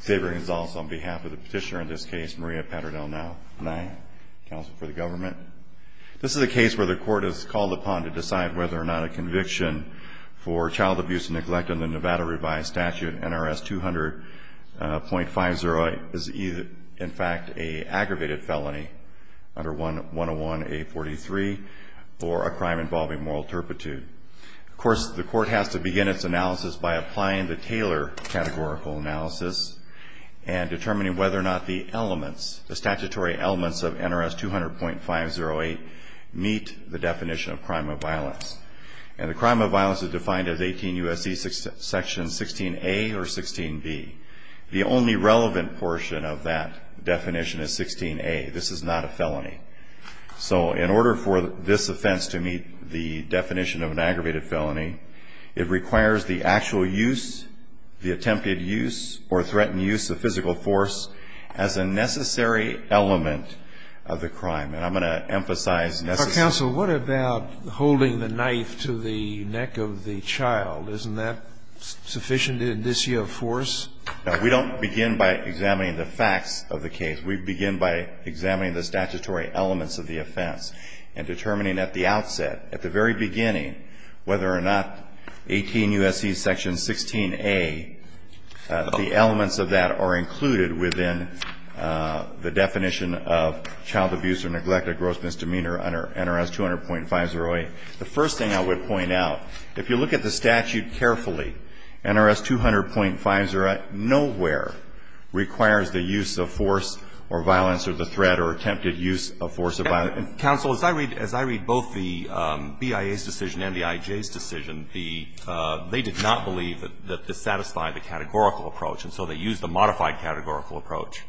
Savoring is also on behalf of the petitioner in this case, Maria Padernal-Nye, counsel for the government. This is a case where the court is called upon to decide whether or not a conviction for child abuse and neglect under Nevada revised statute NRS 200.50 is in fact an aggravated felony under 101A43 or a crime involving moral turpitude. Of course, the court has to begin its analysis by applying the Taylor categorical analysis and determining whether or not the elements, the statutory elements of NRS 200.508 meet the definition of crime of violence. And the crime of violence is defined as 18 U.S.C. section 16A or 16B. The only relevant portion of that definition is 16A. This is not a felony. So in order for this offense to meet the definition of an aggravated felony, it requires the actual use, the attempted use or threatened use of physical force as a necessary element of the crime. And I'm going to emphasize necessary. But, counsel, what about holding the knife to the neck of the child? Isn't that sufficient in this year of force? We don't begin by examining the facts of the case. We begin by examining the statutory elements of the offense and determining at the outset, at the very beginning, whether or not 18 U.S.C. section 16A, the elements of that are included within the definition of child abuse or neglected gross misdemeanor under NRS 200.508. The first thing I would point out, if you look at the statute carefully, NRS 200.508 nowhere requires the use of force or violence or the threat or attempted use of force of violence. Counsel, as I read both the BIA's decision and the IJ's decision, the they did not believe that this satisfied the categorical approach, and so they used the modified categorical approach.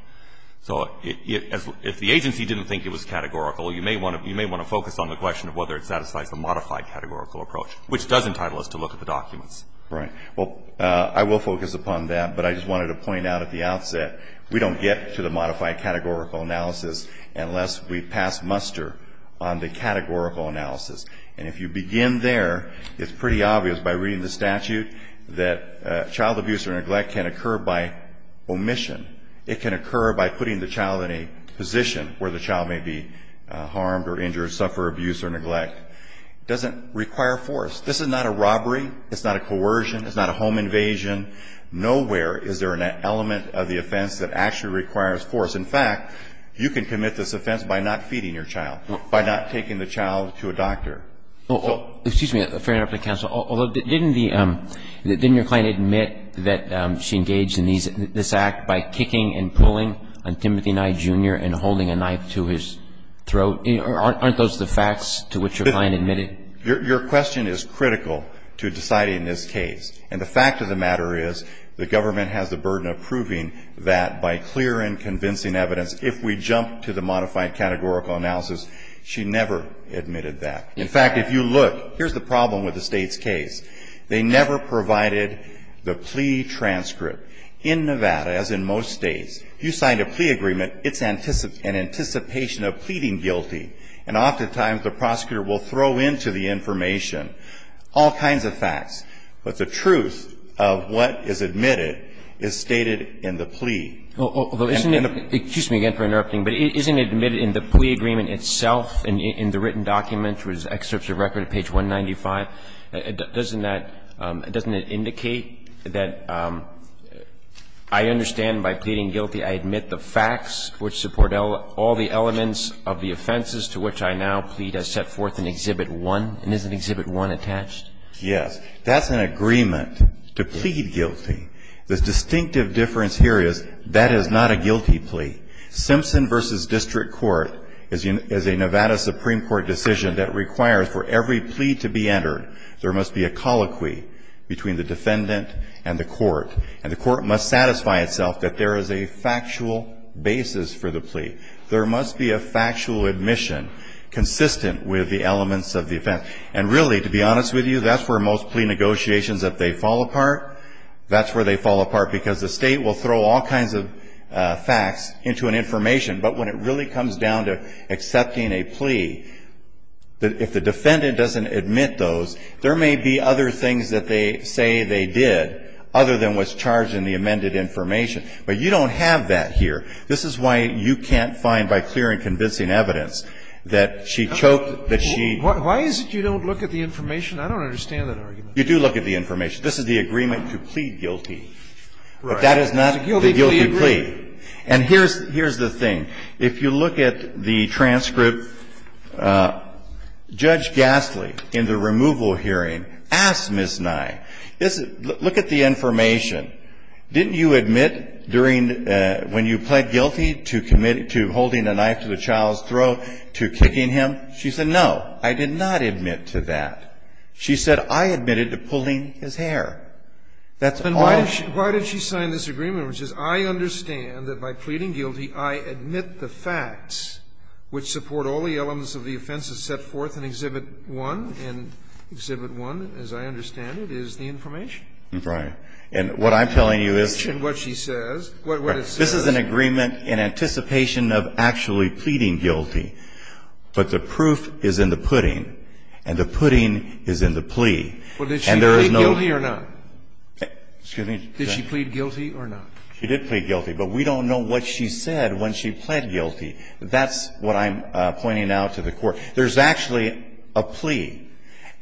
So if the agency didn't think it was categorical, you may want to focus on the question of whether it satisfies the modified categorical approach, which does entitle us to look at the documents. Right. Well, I will focus upon that, but I just wanted to point out at the outset, we don't get to the modified categorical analysis unless we pass muster on the categorical analysis. And if you begin there, it's pretty obvious by reading the statute that child abuse or neglect can occur by omission. It can occur by putting the child in a position where the child may be harmed or injured, suffer abuse or neglect. It doesn't require force. This is not a robbery. It's not a coercion. It's not a home invasion. Nowhere is there an element of the offense that actually requires force. In fact, you can commit this offense by not feeding your child, by not taking the child to a doctor. Excuse me. Fair enough to counsel. Although, didn't your client admit that she engaged in this act by kicking and pulling on Timothy Nye Jr. and holding a knife to his throat? Aren't those the facts to which your client admitted? Your question is critical to deciding this case. And the fact of the matter is the government has the burden of proving that by clear and convincing evidence, if we jump to the modified categorical analysis, she never admitted that. In fact, if you look, here's the problem with the State's case. They never provided the plea transcript. In Nevada, as in most States, you sign a plea agreement, it's an anticipation of pleading guilty. And oftentimes, the prosecutor will throw into the information all kinds of facts. But the truth of what is admitted is stated in the plea. Although, isn't it the plea agreement itself, in the written document, which is excerpts of record at page 195, doesn't that indicate that I understand by pleading guilty I admit the facts which support all the elements of the offenses to which I now plead as set forth in Exhibit 1? And isn't Exhibit 1 attached? Yes. That's an agreement, to plead guilty. The distinctive difference here is that is not a guilty plea. Simpson v. District Court is a Nevada Supreme Court decision that requires for every plea to be entered, there must be a colloquy between the defendant and the court. And the court must satisfy itself that there is a factual basis for the plea. There must be a factual admission consistent with the elements of the offense. And really, to be honest with you, that's where most plea negotiations, if they fall apart, that's where they fall apart. Because the State will throw all kinds of facts into an information. But when it really comes down to accepting a plea, if the defendant doesn't admit those, there may be other things that they say they did other than what's charged in the amended information. But you don't have that here. This is why you can't find by clear and convincing evidence that she choked, that she ---- Why is it you don't look at the information? I don't understand that argument. You do look at the information. This is the agreement to plead guilty. Right. But that is not the guilty plea. And here's the thing. If you look at the transcript, Judge Gastly, in the removal hearing, asked Ms. Nye, look at the information. Didn't you admit during the ---- when you pled guilty to commit to holding a knife to the child's throat, to kicking him? She said, no, I did not admit to that. She said, I admitted to pulling his hair. That's all. Why did she sign this agreement which says, I understand that by pleading guilty, I admit the facts which support all the elements of the offenses set forth in Exhibit 1, and Exhibit 1, as I understand it, is the information. Right. And what I'm telling you is ---- And what she says, what it says is ---- This is an agreement in anticipation of actually pleading guilty. But the proof is in the pudding, and the pudding is in the plea. And there is no ---- Well, did she plead guilty or not? Excuse me. Did she plead guilty or not? She did plead guilty. But we don't know what she said when she pled guilty. That's what I'm pointing out to the Court. There's actually a plea,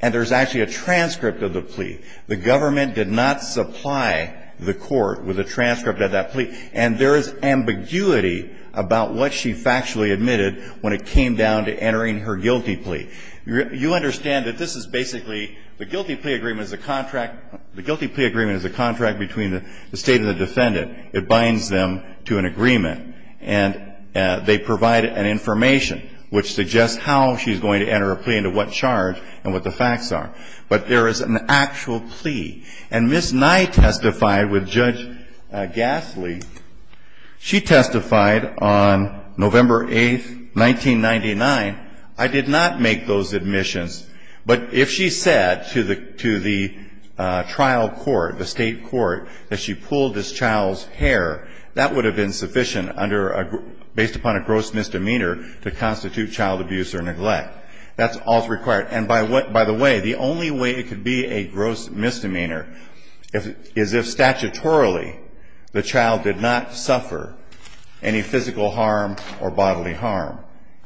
and there's actually a transcript of the plea. The government did not supply the Court with a transcript of that plea. And there is ambiguity about what she factually admitted when it came down to entering her guilty plea. You understand that this is basically the guilty plea agreement is a contract ---- the guilty plea agreement is a contract between the State and the defendant. It binds them to an agreement. And they provide an information which suggests how she's going to enter a plea and to what charge and what the facts are. But there is an actual plea. And Ms. Nye testified with Judge Gasly. She testified on November 8th, 1999. I did not make those admissions. But if she said to the trial court, the State court, that she pulled this child's hair, that would have been sufficient under a ---- based upon a gross misdemeanor to constitute child abuse or neglect. That's all that's required. And by the way, the only way it could be a gross misdemeanor is if statutorily the child did not suffer any physical harm or bodily harm.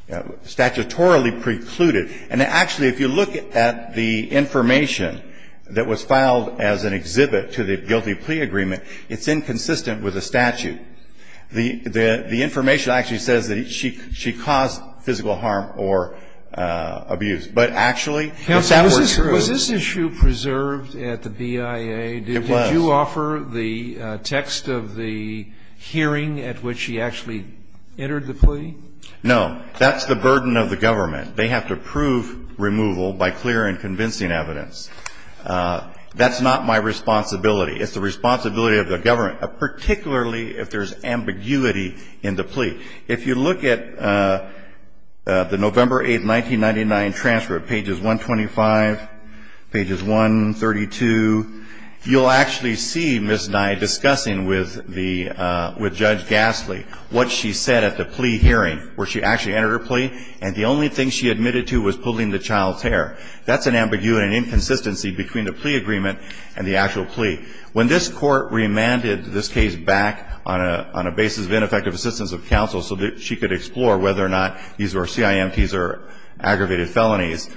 Statutorily precluded. And actually, if you look at the information that was filed as an exhibit to the guilty plea agreement, it's inconsistent with the statute. The information actually says that she caused physical harm or abuse. But actually, if that were true ---- Was this issue preserved at the BIA? It was. Did you offer the text of the hearing at which she actually entered the plea? No. That's the burden of the government. They have to prove removal by clear and convincing evidence. That's not my responsibility. It's the responsibility of the government, particularly if there's ambiguity in the plea. If you look at the November 8, 1999 transfer, pages 125, pages 132, you'll actually see Ms. Nye discussing with the ---- with Judge Gasly what she said at the plea hearing, where she actually entered her plea, and the only thing she admitted to was pulling the child's hair. That's an ambiguity and inconsistency between the plea agreement and the actual plea. When this Court remanded this case back on a basis of ineffective assistance of counsel so that she could explore whether or not these were CIMPs or aggravated felonies,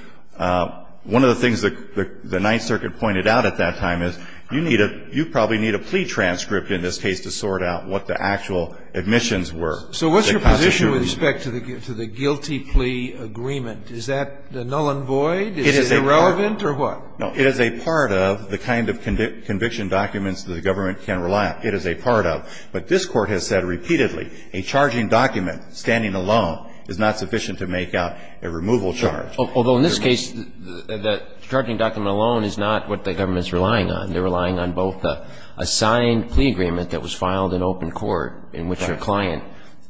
one of the things that the Ninth Circuit pointed out at that time is you need a ---- you probably need a plea transcript in this case to sort out what the actual admissions were. So what's your position with respect to the guilty plea agreement? Is that null and void? Is it irrelevant or what? No, it is a part of the kind of conviction documents that the government can rely on. It is a part of. But this Court has said repeatedly a charging document standing alone is not sufficient to make out a removal charge. Although in this case, the charging document alone is not what the government is relying on. They're relying on both a signed plea agreement that was filed in open court in which her client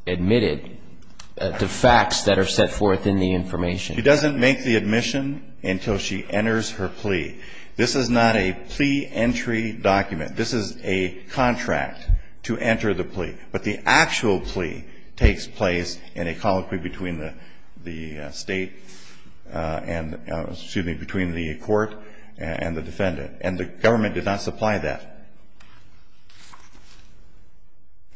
admitted the facts that are set forth in the information. She doesn't make the admission until she enters her plea. This is not a plea entry document. This is a contract to enter the plea. But the actual plea takes place in a colloquy between the State and, excuse me, between the court and the defendant. And the government did not supply that.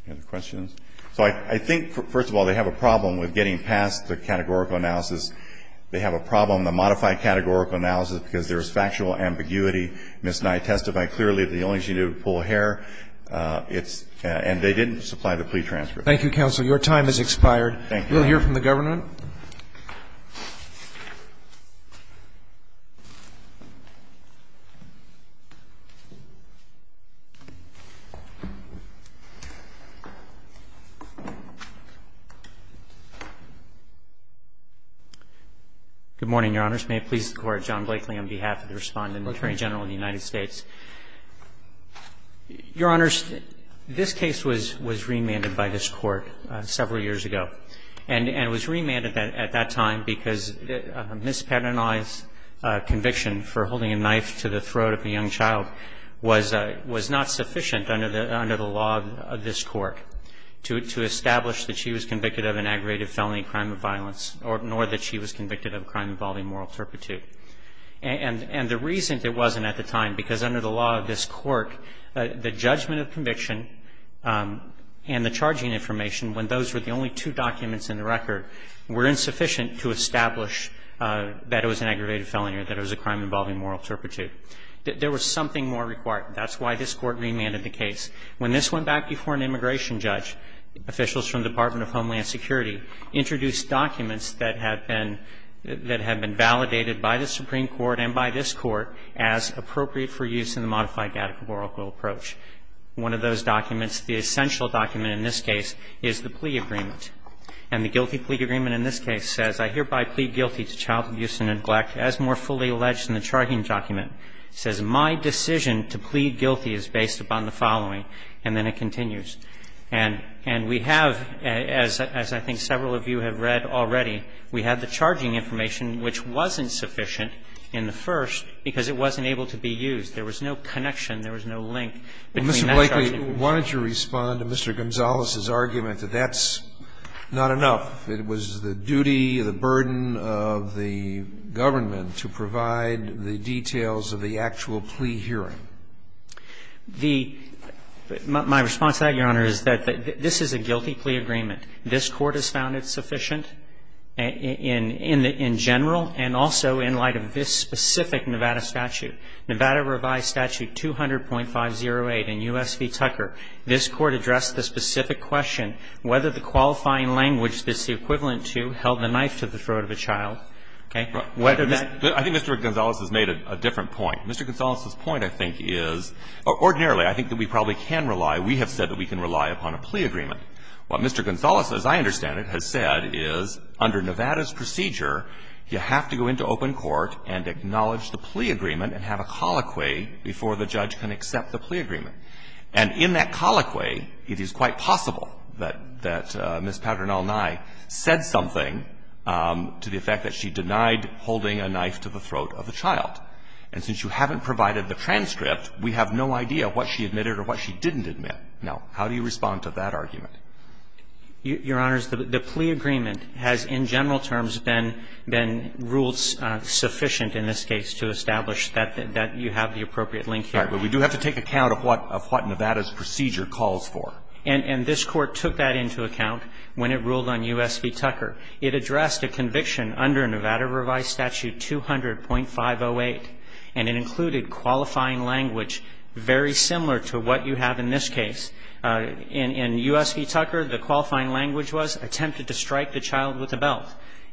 Any other questions? So I think, first of all, they have a problem with getting past the categorical analysis. They have a problem, the modified categorical analysis, because there is factual ambiguity. Ms. Nye testified clearly that the only thing they did was pull hair. It's – and they didn't supply the plea transfer. Thank you, counsel. Your time has expired. Thank you. We'll hear from the government. Good morning, Your Honors. May it please the Court, John Blakely on behalf of the Respondent, Attorney General of the United States. Your Honors, this case was remanded by this Court several years ago. And it was remanded at that time because Ms. Pat Nye's conviction for holding a knife to the throat of a young child was not sufficient under the law of this court to establish that she was convicted of an aggravated felony crime of violence, nor that she was convicted of a crime involving moral turpitude. And the reason it wasn't at the time, because under the law of this court, the judgment of conviction and the charging information, when those were the only two documents in the record, were insufficient to establish that it was an aggravated felony or that it was a crime involving moral turpitude. There was something more required. That's why this Court remanded the case. When this went back before an immigration judge, officials from the Department of Homeland Security introduced documents that had been – that had been validated by the Supreme Court and by this Court as appropriate for use in the modified One of those documents, the essential document in this case, is the plea agreement. And the guilty plea agreement in this case says, I hereby plead guilty to child abuse and neglect as more fully alleged in the charging document. It says my decision to plead guilty is based upon the following. And then it continues. And we have, as I think several of you have read already, we have the charging information, which wasn't sufficient in the first because it wasn't able to be used. There was no connection. There was no link between that charging information. Well, Mr. Blakely, why don't you respond to Mr. Gonzalez's argument that that's not enough. It was the duty, the burden of the government to provide the details of the actual plea hearing. The – my response to that, Your Honor, is that this is a guilty plea agreement. This Court has found it sufficient in general and also in light of this specific Nevada statute. Nevada revised statute 200.508 in U.S. v. Tucker. This Court addressed the specific question whether the qualifying language that's the equivalent to held the knife to the throat of a child. Okay? Whether that – I think Mr. Gonzalez has made a different point. Mr. Gonzalez's point, I think, is ordinarily I think that we probably can rely, we have said that we can rely upon a plea agreement. What Mr. Gonzalez, as I understand it, has said is under Nevada's procedure, you have to go into open court and acknowledge the plea agreement and have a colloquy before the judge can accept the plea agreement. And in that colloquy, it is quite possible that Ms. Patternall Nye said something to the effect that she denied holding a knife to the throat of a child. And since you haven't provided the transcript, we have no idea what she admitted or what she didn't admit. Now, how do you respond to that argument? Your Honors, the plea agreement has in general terms been ruled sufficient in this case to establish that you have the appropriate link here. Right. But we do have to take account of what Nevada's procedure calls for. And this Court took that into account when it ruled on U.S. v. Tucker. It addressed a conviction under Nevada Revised Statute 200.508, and it included qualifying language very similar to what you have in this case. In U.S. v. Tucker, the qualifying language was attempted to strike the child with the belt.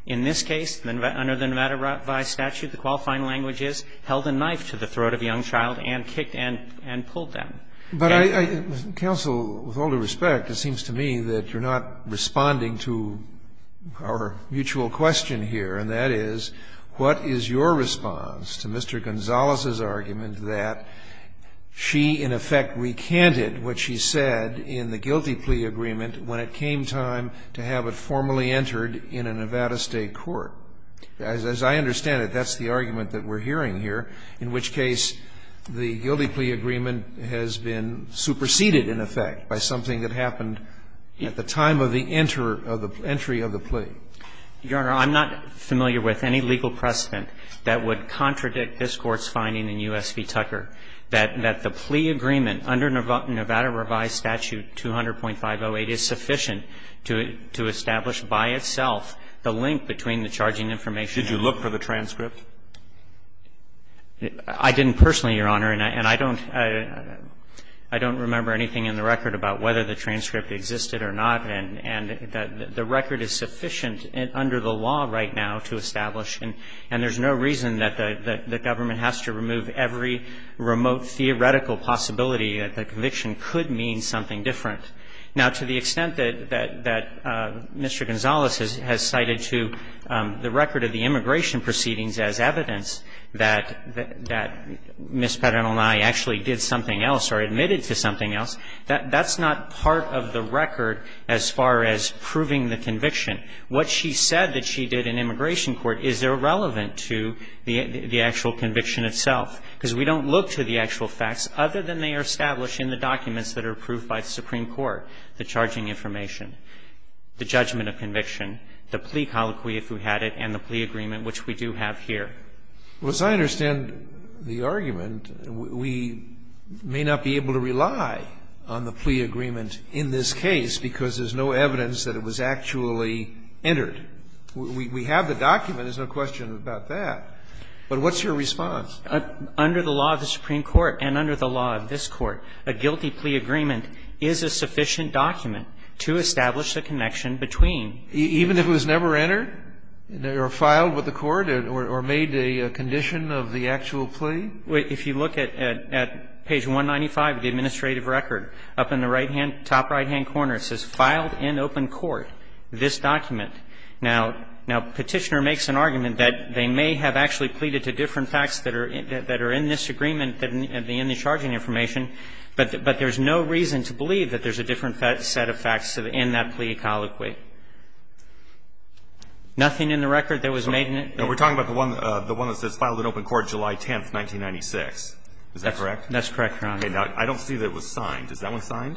In this case, under the Nevada Revised Statute, the qualifying language is held a knife to the throat of a young child and kicked and pulled them. But I, Counsel, with all due respect, it seems to me that you're not responding to our mutual question here, and that is, what is your response to Mr. Gonzalez's guilty plea agreement when it came time to have it formally entered in a Nevada State court? As I understand it, that's the argument that we're hearing here, in which case the guilty plea agreement has been superseded, in effect, by something that happened at the time of the entry of the plea. Your Honor, I'm not familiar with any legal precedent that would contradict this Court's finding in U.S. v. Tucker that the plea agreement under Nevada Revised Statute 200.508 is sufficient to establish by itself the link between the charging information. Did you look for the transcript? I didn't personally, Your Honor, and I don't remember anything in the record about whether the transcript existed or not, and the record is sufficient under the law right now to establish. And there's no reason that the government has to remove every remote theoretical possibility that the conviction could mean something different. Now, to the extent that Mr. Gonzalez has cited to the record of the immigration proceedings as evidence that Ms. Pedernal and I actually did something else or admitted to something else, that's not part of the record as far as proving the conviction. What she said that she did in immigration court is irrelevant to the actual conviction itself, because we don't look to the actual facts other than they are established in the documents that are approved by the Supreme Court, the charging information, the judgment of conviction, the plea colloquy, if we had it, and the plea agreement, which we do have here. Well, as I understand the argument, we may not be able to rely on the plea agreement in this case because there's no evidence that it was actually entered. We have the document. There's no question about that. But what's your response? Under the law of the Supreme Court and under the law of this Court, a guilty plea agreement is a sufficient document to establish the connection between. Even if it was never entered or filed with the court or made a condition of the actual plea? If you look at page 195 of the administrative record, up in the right hand, top right hand corner, it says filed in open court this document. Now, Petitioner makes an argument that they may have actually pleaded to different facts that are in this agreement in the charging information, but there's no reason to believe that there's a different set of facts in that plea colloquy. Nothing in the record that was made in it? We're talking about the one that says filed in open court July 10th, 1996. Is that correct? That's correct, Your Honor. Okay. Now, I don't see that it was signed. Is that one signed?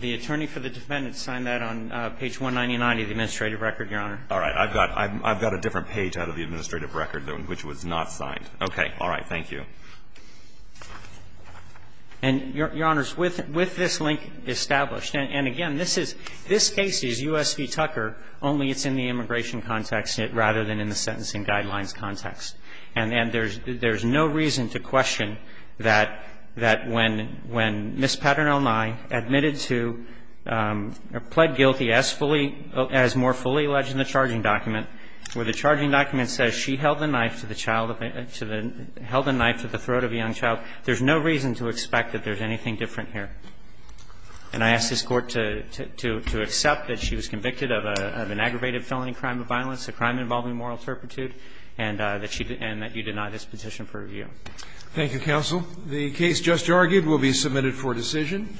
The attorney for the defendant signed that on page 199 of the administrative record, Your Honor. All right. I've got a different page out of the administrative record, which was not signed. All right. And, Your Honor, with this link established, and again, this case is U.S. v. Tucker, only it's in the immigration context rather than in the sentencing guidelines context. And there's no reason to question that when Ms. Patternell Nye admitted to or pled guilty as more fully alleged in the charging document, where the charging document says she held a knife to the throat of a young child, there's no reason to expect that there's anything different here. And I ask this Court to accept that she was convicted of an aggravated felony crime of violence, a crime involving moral turpitude, and that you deny this petition for review. Thank you, counsel. The case just argued will be submitted for decision.